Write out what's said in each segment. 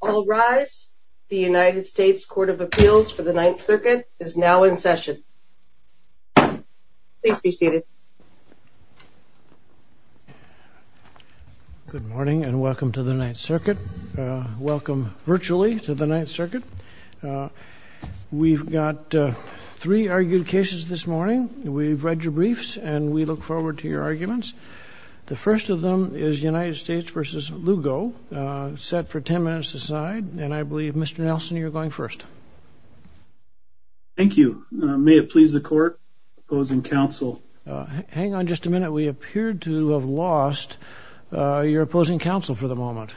All rise. The United States Court of Appeals for the Ninth Circuit is now in session. Please be seated. Good morning and welcome to the Ninth Circuit. Welcome virtually to the Ninth Circuit. We've got three argued cases this morning. We've read your briefs and we look forward to your arguments. The first of them is United States v. Lugo, set for ten minutes aside. And I believe, Mr. Nelson, you're going first. Thank you. May it please the Court, opposing counsel. Hang on just a minute. We appear to have lost your opposing counsel for the moment.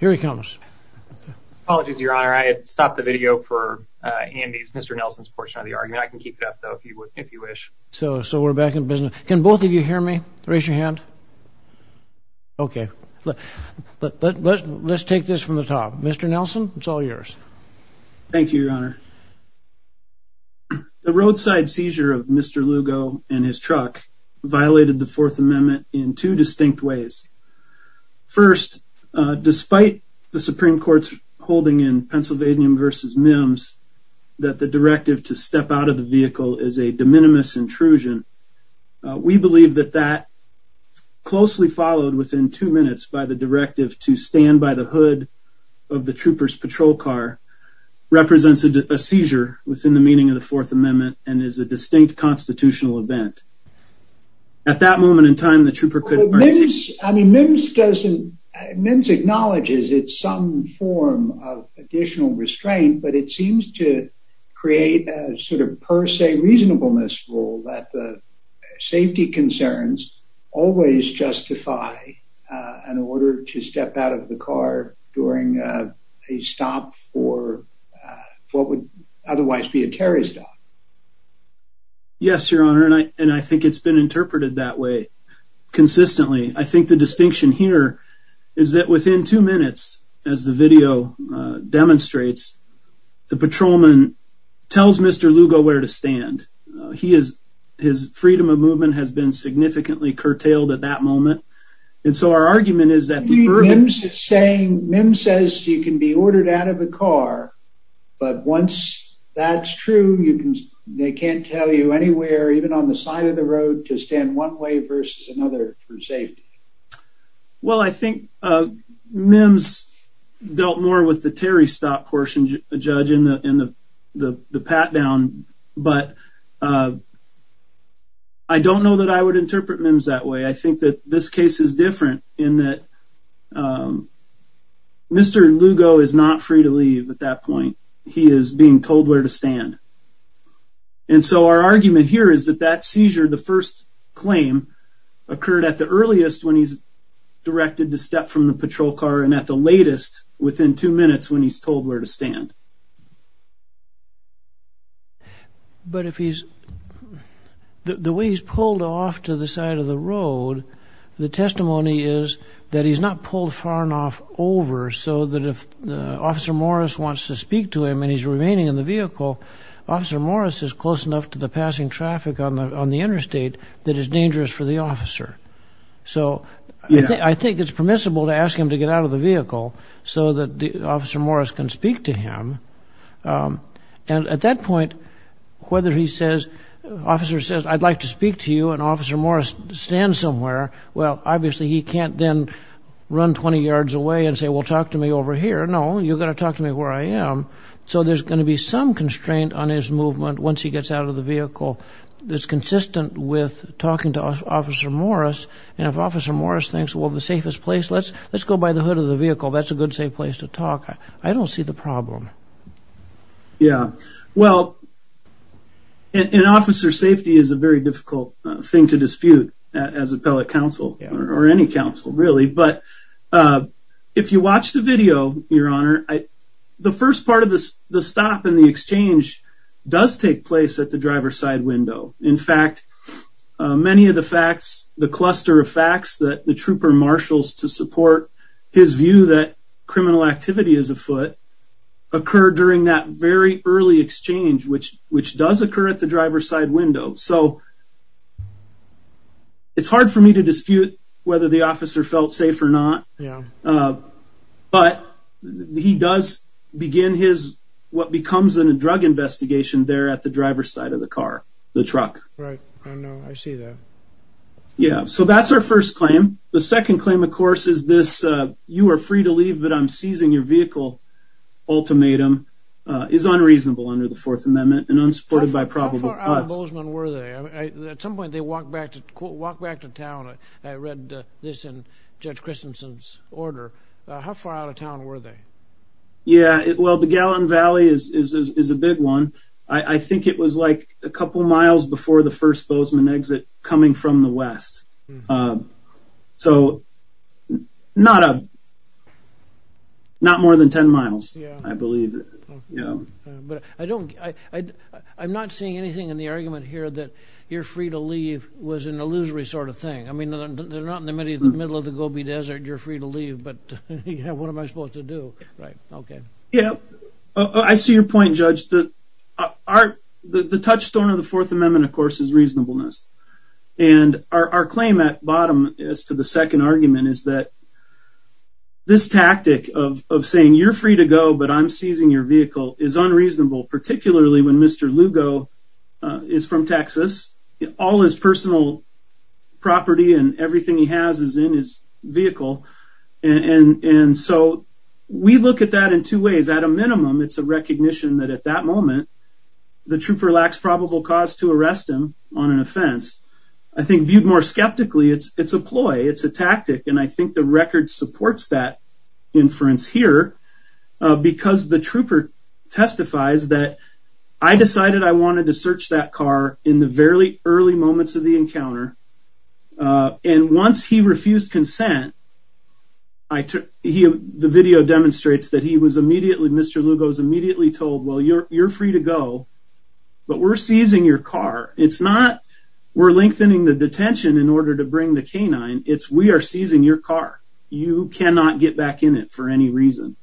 Here he comes. Apologies, Your Honor. I had stopped the video for Andy's, Mr. Nelson's portion of the argument. I can keep it up, though, if you wish. So we're back in business. Can both of you hear me? Raise your hand. Okay. Let's take this from the top. Mr. Nelson, it's all yours. Thank you, Your Honor. The roadside seizure of Mr. Lugo and his truck violated the Fourth Amendment in two distinct ways. First, despite the Supreme Court's holding in Pennsylvania v. Mims that the directive to step out of the vehicle is a de minimis intrusion, we believe that that, closely followed within two minutes by the directive to stand by the hood of the trooper's patrol car, represents a seizure within the meaning of the Fourth Amendment and is a distinct constitutional event. At that moment in time, the trooper couldn't— I mean, Mims doesn't—Mims acknowledges it's some form of additional restraint, but it seems to create a sort of per se reasonableness rule that the safety concerns always justify an order to step out of the car during a stop for what would otherwise be a terrorist act. Yes, Your Honor, and I think it's been interpreted that way consistently. I think the distinction here is that within two minutes, as the video demonstrates, the patrolman tells Mr. Lugo where to stand. His freedom of movement has been significantly curtailed at that moment, and so our argument is that— Mims is saying—Mims says you can be ordered out of the car, but once that's true, they can't tell you anywhere, even on the side of the road, to stand one way versus another for safety. Well, I think Mims dealt more with the Terry stop portion, Judge, in the pat-down, but I don't know that I would interpret Mims that way. I think that this case is different in that Mr. Lugo is not free to leave at that point. He is being told where to stand. And so our argument here is that that seizure, the first claim, occurred at the earliest when he's directed to step from the patrol car and at the latest within two minutes when he's told where to stand. But if he's—the way he's pulled off to the side of the road, the testimony is that he's not pulled far enough over so that if Officer Morris wants to speak to him and he's remaining in the vehicle, Officer Morris is close enough to the passing traffic on the interstate that it's dangerous for the officer. So I think it's permissible to ask him to get out of the vehicle so that Officer Morris can speak to him. And at that point, whether he says— Officer says, I'd like to speak to you, and Officer Morris stands somewhere, well, obviously he can't then run 20 yards away and say, well, talk to me over here. No, you've got to talk to me where I am. So there's going to be some constraint on his movement once he gets out of the vehicle that's consistent with talking to Officer Morris. And if Officer Morris thinks, well, the safest place, let's go by the hood of the vehicle. That's a good, safe place to talk, I don't see the problem. Yeah, well, an officer's safety is a very difficult thing to dispute as appellate counsel or any counsel, really. But if you watch the video, Your Honor, the first part of the stop and the exchange does take place at the driver's side window. In fact, many of the facts, the cluster of facts that the trooper marshals to support his view that criminal activity is afoot occur during that very early exchange, which does occur at the driver's side window. So it's hard for me to dispute whether the officer felt safe or not. But he does begin what becomes a drug investigation there at the driver's side of the car, the truck. Right, I know, I see that. Yeah, so that's our first claim. The second claim, of course, is this, you are free to leave, but I'm seizing your vehicle ultimatum is unreasonable under the Fourth Amendment and unsupported by probable cause. How far out of Bozeman were they? At some point they walked back to town. I read this in Judge Christensen's order. How far out of town were they? Yeah, well, the Gallatin Valley is a big one. I think it was like a couple miles before the first Bozeman exit coming from the west. So not more than 10 miles, I believe. But I'm not seeing anything in the argument here that you're free to leave was an illusory sort of thing. I mean, they're not in the middle of the Gobi Desert, you're free to leave, but what am I supposed to do? Yeah, I see your point, Judge. The touchstone of the Fourth Amendment, of course, is reasonableness. And our claim at bottom as to the second argument is that this tactic of saying you're free to go, but I'm seizing your vehicle is unreasonable, particularly when Mr. Lugo is from Texas. All his personal property and everything he has is in his vehicle. And so we look at that in two ways. At a minimum, it's a recognition that at that moment the trooper lacks probable cause to arrest him on an offense. I think viewed more skeptically, it's a ploy, it's a tactic, and I think the record supports that inference here because the trooper testifies that I decided I wanted to search that car in the very early moments of the encounter. And once he refused consent, the video demonstrates that he was immediately, Mr. Lugo was immediately told, well, you're free to go, but we're seizing your car. It's not we're lengthening the detention in order to bring the canine. It's we are seizing your car. You cannot get back in it for any reason.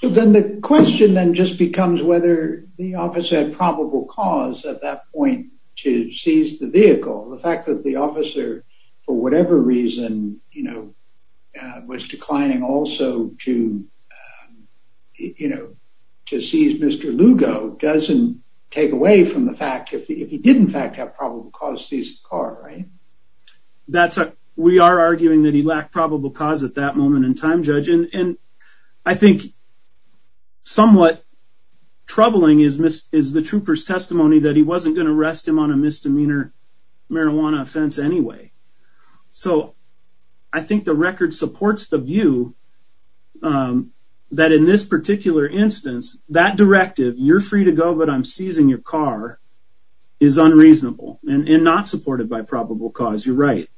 So then the question then just becomes whether the officer had probable cause at that point to seize the vehicle. The fact that the officer, for whatever reason, you know, was declining also to, you know, to seize Mr. Lugo doesn't take away from the fact if he did in fact have probable cause to seize the car, right? We are arguing that he lacked probable cause at that moment in time, Judge. I think somewhat troubling is the trooper's testimony that he wasn't going to arrest him on a misdemeanor marijuana offense anyway. So I think the record supports the view that in this particular instance, that directive, you're free to go, but I'm seizing your car, is unreasonable and not supported by probable cause. You're right.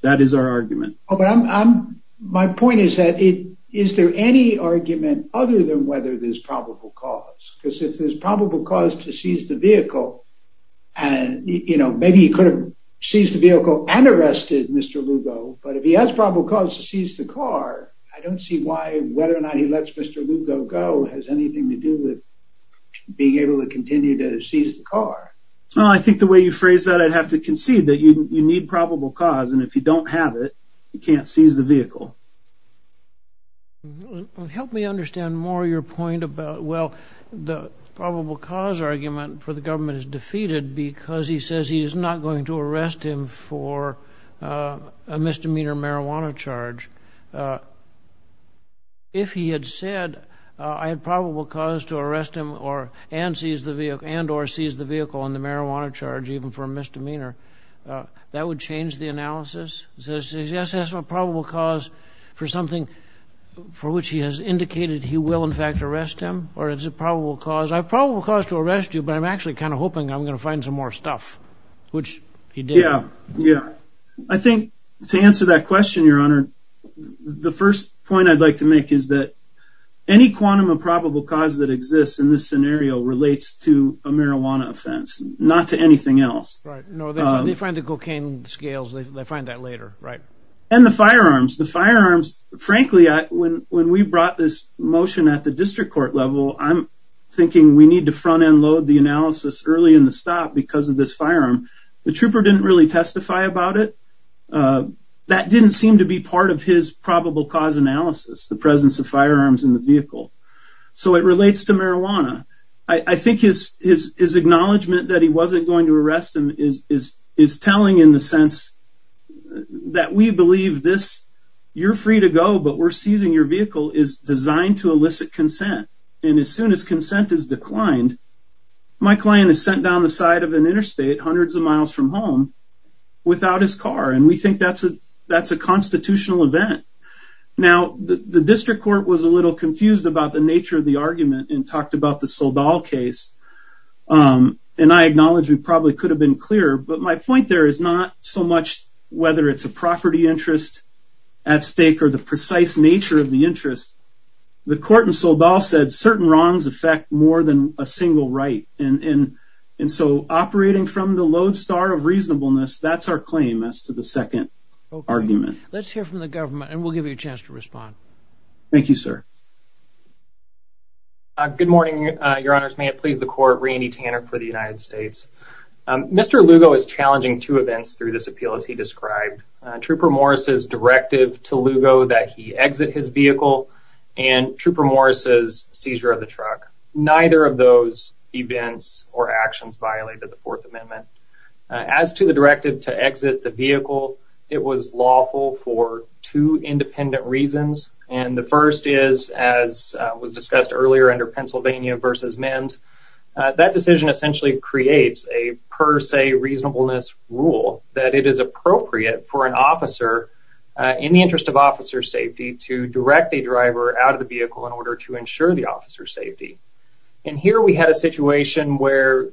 That is our argument. But I'm my point is that it is there any argument other than whether there's probable cause? Because if there's probable cause to seize the vehicle and, you know, maybe he could have seized the vehicle and arrested Mr. Lugo. But if he has probable cause to seize the car, I don't see why whether or not he lets Mr. Lugo go has anything to do with being able to continue to seize the car. Well, I think the way you phrase that, I'd have to concede that you need probable cause. And if you don't have it, you can't seize the vehicle. Help me understand more your point about, well, the probable cause argument for the government is defeated because he says he is not going to arrest him for a misdemeanor marijuana charge. If he had said I had probable cause to arrest him or and seize the vehicle and or seize the vehicle on the marijuana charge, even for a misdemeanor, that would change the analysis. Yes, that's a probable cause for something for which he has indicated he will, in fact, arrest him. Or is it probable cause? I have probable cause to arrest you, but I'm actually kind of hoping I'm going to find some more stuff, which he did. Yeah, yeah. I think to answer that question, your honor, the first point I'd like to make is that any quantum of probable cause that exists in this scenario relates to a marijuana offense, not to anything else. No, they find the cocaine scales. They find that later. Right. And the firearms, the firearms. Frankly, when when we brought this motion at the district court level, I'm thinking we need to front end load the analysis early in the stop because of this firearm. The trooper didn't really testify about it. That didn't seem to be part of his probable cause analysis, the presence of firearms in the vehicle. So it relates to marijuana. I think his his his acknowledgement that he wasn't going to arrest him is is is telling in the sense that we believe this. You're free to go, but we're seizing your vehicle is designed to elicit consent. And as soon as consent is declined, my client is sent down the side of an interstate hundreds of miles from home without his car. And we think that's a that's a constitutional event. Now, the district court was a little confused about the nature of the argument and talked about the Saldal case. And I acknowledge we probably could have been clearer. But my point there is not so much whether it's a property interest at stake or the precise nature of the interest. The court in Saldal said certain wrongs affect more than a single right. And so operating from the lodestar of reasonableness, that's our claim as to the second argument. Let's hear from the government and we'll give you a chance to respond. Thank you, sir. Good morning, your honors. May it please the court. Randy Tanner for the United States. Mr. Lugo is challenging two events through this appeal, as he described Trooper Morris's directive to Lugo that he exit his vehicle and Trooper Morris's seizure of the truck. Neither of those events or actions violated the Fourth Amendment. As to the directive to exit the vehicle, it was lawful for two independent reasons. And the first is, as was discussed earlier under Pennsylvania v. MEND, that decision essentially creates a per se reasonableness rule that it is appropriate for an officer, in the interest of officer safety, to direct a driver out of the vehicle in order to ensure the officer's safety. And here we had a situation where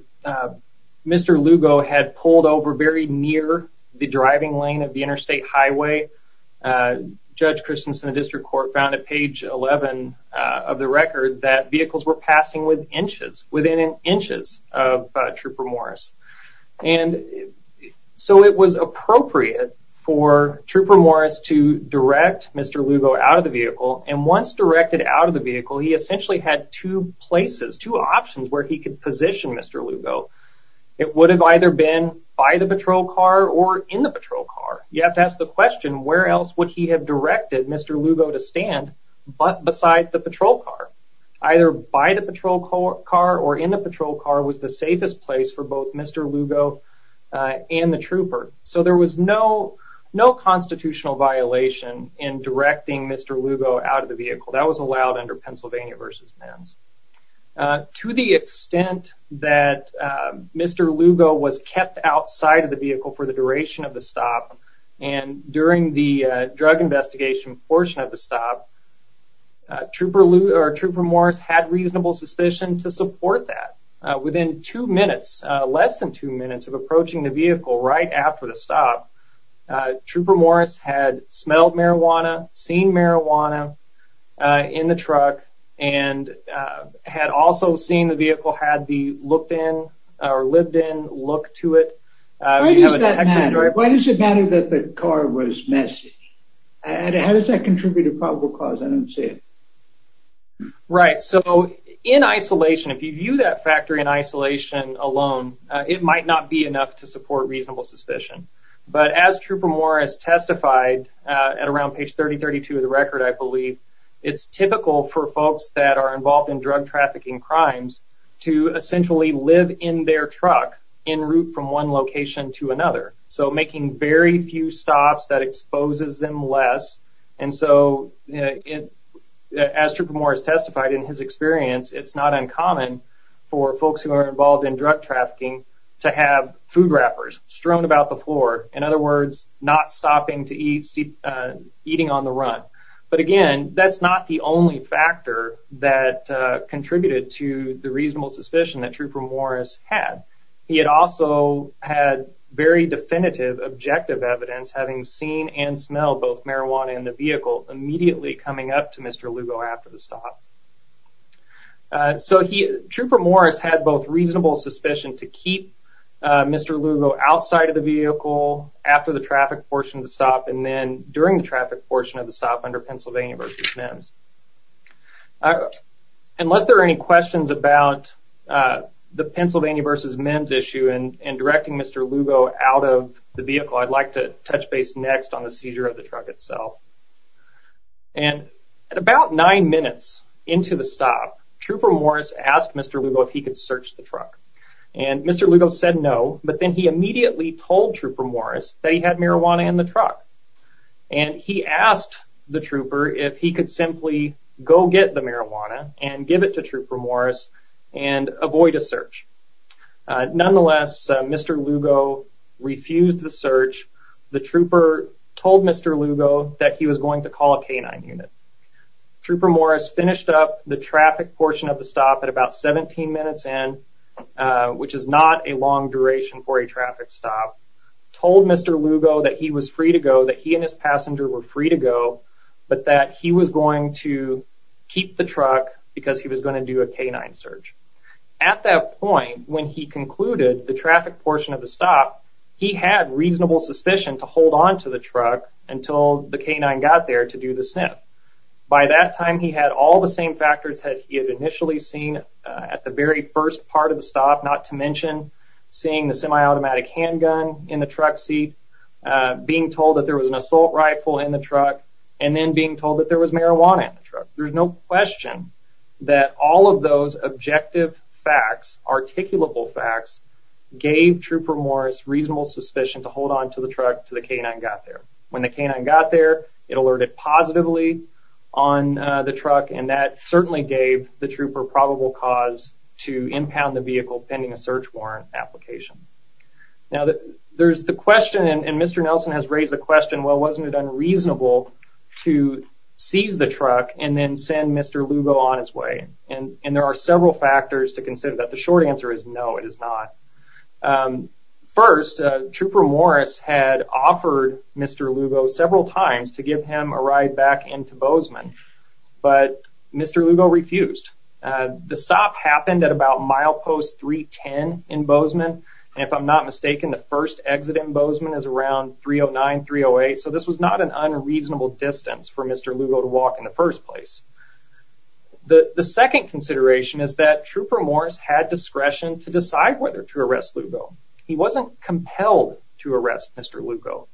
Mr. Lugo had pulled over very near the driving lane of the interstate highway. Judge Christensen of the District Court found at page 11 of the record that vehicles were passing within inches of Trooper Morris. And so it was appropriate for Trooper Morris to direct Mr. Lugo out of the vehicle. And once directed out of the vehicle, he essentially had two places, two options where he could position Mr. Lugo. It would have either been by the patrol car or in the patrol car. You have to ask the question, where else would he have directed Mr. Lugo to stand but beside the patrol car? Either by the patrol car or in the patrol car was the safest place for both Mr. Lugo and the trooper. So there was no constitutional violation in directing Mr. Lugo out of the vehicle. To the extent that Mr. Lugo was kept outside of the vehicle for the duration of the stop, and during the drug investigation portion of the stop, Trooper Morris had reasonable suspicion to support that. Within two minutes, less than two minutes of approaching the vehicle right after the stop, Trooper Morris had smelled marijuana, seen marijuana in the truck, and had also seen the vehicle had the looked in or lived in look to it. Why does it matter that the car was messaged? And how does that contribute to probable cause? I don't see it. Right. So in isolation, if you view that factory in isolation alone, it might not be enough to support reasonable suspicion. But as Trooper Morris testified at around page 3032 of the record, I believe, it's typical for folks that are involved in drug trafficking crimes to essentially live in their truck en route from one location to another. So making very few stops that exposes them less. And so as Trooper Morris testified in his experience, it's not uncommon for folks who are involved in drug trafficking to have food wrappers strewn about the floor. In other words, not stopping to eat, eating on the run. But again, that's not the only factor that contributed to the reasonable suspicion that Trooper Morris had. He had also had very definitive objective evidence having seen and smelled both marijuana in the vehicle immediately coming up to Mr. Lugo after the stop. So Trooper Morris had both reasonable suspicion to keep Mr. Lugo outside of the vehicle after the traffic portion of the stop and then during the traffic portion of the stop under Pennsylvania v. Mims. Unless there are any questions about the Pennsylvania v. Mims issue and directing Mr. Lugo out of the vehicle, I'd like to touch base next on the seizure of the truck itself. And at about nine minutes into the stop, Trooper Morris asked Mr. Lugo if he could search the truck. And Mr. Lugo said no, but then he immediately told Trooper Morris that he had marijuana in the truck. And he asked the trooper if he could simply go get the marijuana and give it to Trooper Morris and avoid a search. Nonetheless, Mr. Lugo refused the search. The trooper told Mr. Lugo that he was going to call a K-9 unit. Trooper Morris finished up the traffic portion of the stop at about 17 minutes in, which is not a long duration for a traffic stop, told Mr. Lugo that he was free to go, that he and his passenger were free to go, but that he was going to keep the truck because he was going to do a K-9 search. At that point, when he concluded the traffic portion of the stop, he had reasonable suspicion to hold onto the truck until the K-9 got there to do the sniff. By that time, he had all the same factors that he had initially seen at the very first part of the stop, not to mention seeing the semi-automatic handgun in the truck seat, being told that there was an assault rifle in the truck, and then being told that there was marijuana in the truck. There's no question that all of those objective facts, articulable facts, gave Trooper Morris reasonable suspicion to hold onto the truck until the K-9 got there. When the K-9 got there, it alerted positively on the truck, and that certainly gave the trooper probable cause to impound the vehicle pending a search warrant application. Now, there's the question, and Mr. Nelson has raised the question, well, wasn't it unreasonable to seize the truck and then send Mr. Lugo on his way? And there are several factors to consider, but the short answer is no, it is not. First, Trooper Morris had offered Mr. Lugo several times to give him a ride back into Bozeman, but Mr. Lugo refused. The stop happened at about milepost 310 in Bozeman, and if I'm not mistaken, the first exit in Bozeman is around 309, 308, so this was not an unreasonable distance for Mr. Lugo to walk in the first place. The second consideration is that Trooper Morris had discretion to decide whether to arrest Lugo. He wasn't compelled to arrest Mr. Lugo.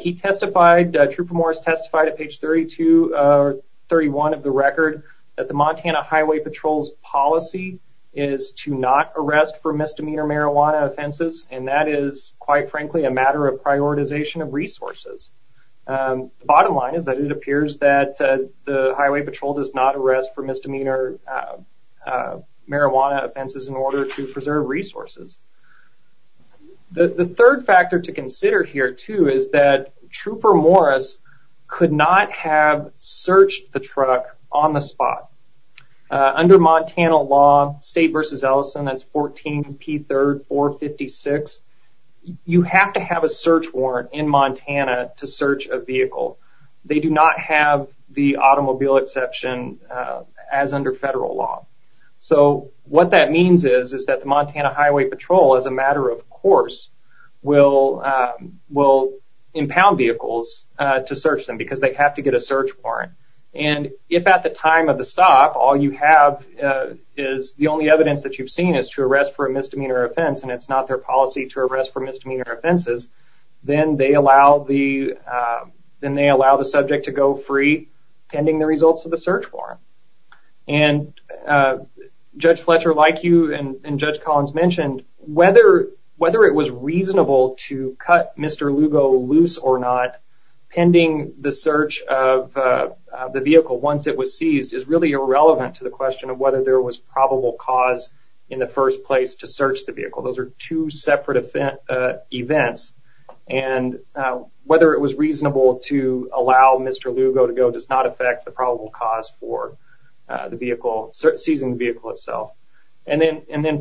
He testified, Trooper Morris testified at page 32 or 31 of the record that the Montana Highway Patrol's policy is to not arrest for misdemeanor marijuana offenses, and that is, quite frankly, a matter of prioritization of resources. The bottom line is that it appears that the Highway Patrol does not arrest for misdemeanor marijuana offenses in order to preserve resources. The third factor to consider here, too, is that Trooper Morris could not have searched the truck on the spot. Under Montana law, State v. Ellison, that's 14P3456, you have to have a search warrant in Montana to search a vehicle. They do not have the automobile exception as under federal law. What that means is that the Montana Highway Patrol, as a matter of course, will impound vehicles to search them because they have to get a search warrant. If at the time of the stop, all you have is the only evidence that you've seen is to arrest for a misdemeanor offense and it's not their policy to arrest for misdemeanor offenses, then they allow the subject to go free pending the results of the search warrant. Judge Fletcher, like you and Judge Collins mentioned, whether it was reasonable to cut Mr. Lugo loose or not pending the search of the vehicle once it was seized is really irrelevant to the question of whether there was probable cause in the first place to search the vehicle. Those are two separate events. Whether it was reasonable to allow Mr. Lugo to go does not affect the probable cause for seizing the vehicle itself.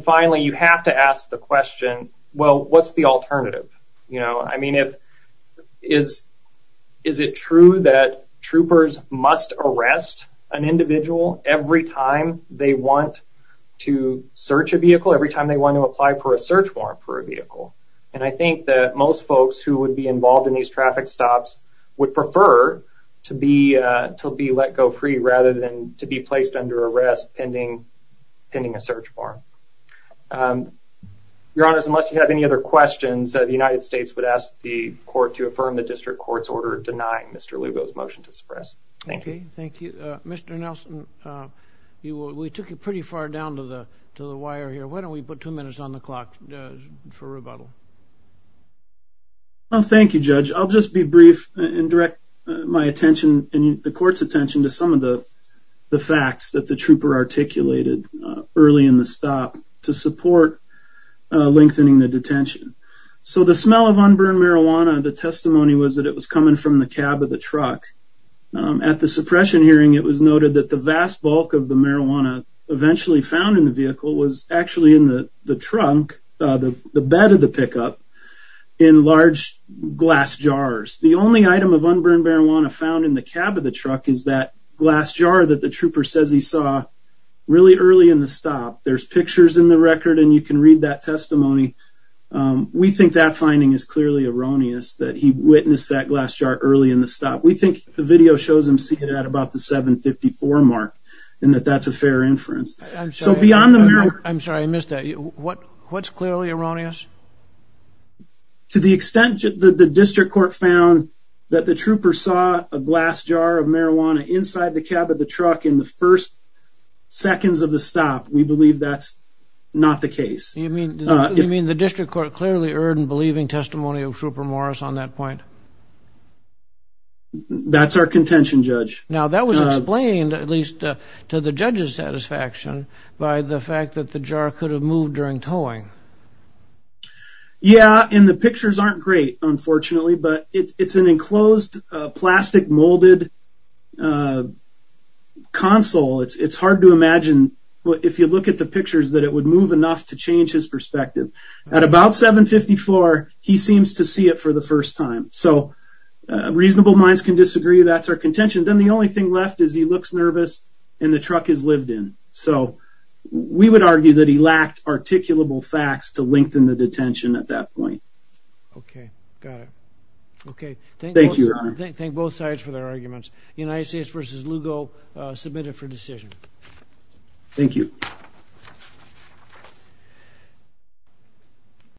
Finally, you have to ask the question, what's the alternative? Is it true that troopers must arrest an individual every time they want to search a vehicle, every time they want to apply for a search warrant for a vehicle? I think that most folks who would be involved in these traffic stops would prefer to be let go free rather than to be placed under arrest pending a search warrant. Your Honor, unless you have any other questions, the United States would ask the court to affirm the district court's order denying Mr. Lugo's motion to suppress. Thank you. Thank you. Mr. Nelson, we took you pretty far down to the wire here. Why don't we put two minutes on the clock for rebuttal? Thank you, Judge. I'll just be brief and direct my attention and the court's attention to some of the facts that the trooper articulated early in the stop to support lengthening the detention. So the smell of unburned marijuana, the testimony was that it was coming from the cab of the truck. At the suppression hearing, it was noted that the vast bulk of the marijuana eventually found in the vehicle was actually in the trunk, the bed of the pickup, in large glass jars. The only item of unburned marijuana found in the cab of the truck is that glass jar that the trooper says he saw really early in the stop. There's pictures in the record, and you can read that testimony. We think that finding is clearly erroneous, that he witnessed that glass jar early in the stop. We think the video shows him seeing it at about the 7.54 mark and that that's a fair inference. I'm sorry, I missed that. What's clearly erroneous? To the extent that the district court found that the trooper saw a glass jar of marijuana inside the cab of the truck in the first seconds of the stop, we believe that's not the case. You mean the district court clearly erred in believing testimony of Trooper Morris on that point? That's our contention, Judge. Now that was explained, at least to the judge's satisfaction, by the fact that the jar could have moved during towing. Yeah, and the pictures aren't great, unfortunately, but it's an enclosed plastic molded console. It's hard to imagine, if you look at the pictures, that it would move enough to change his perspective. At about 7.54, he seems to see it for the first time. Reasonable minds can disagree. That's our contention. Then the only thing left is he looks nervous and the truck is lived in. We would argue that he lacked articulable facts to lengthen the detention at that point. Okay, got it. Thank you, Your Honor. Thank both sides for their arguments. United States v. Lugo, submitted for decision. Thank you.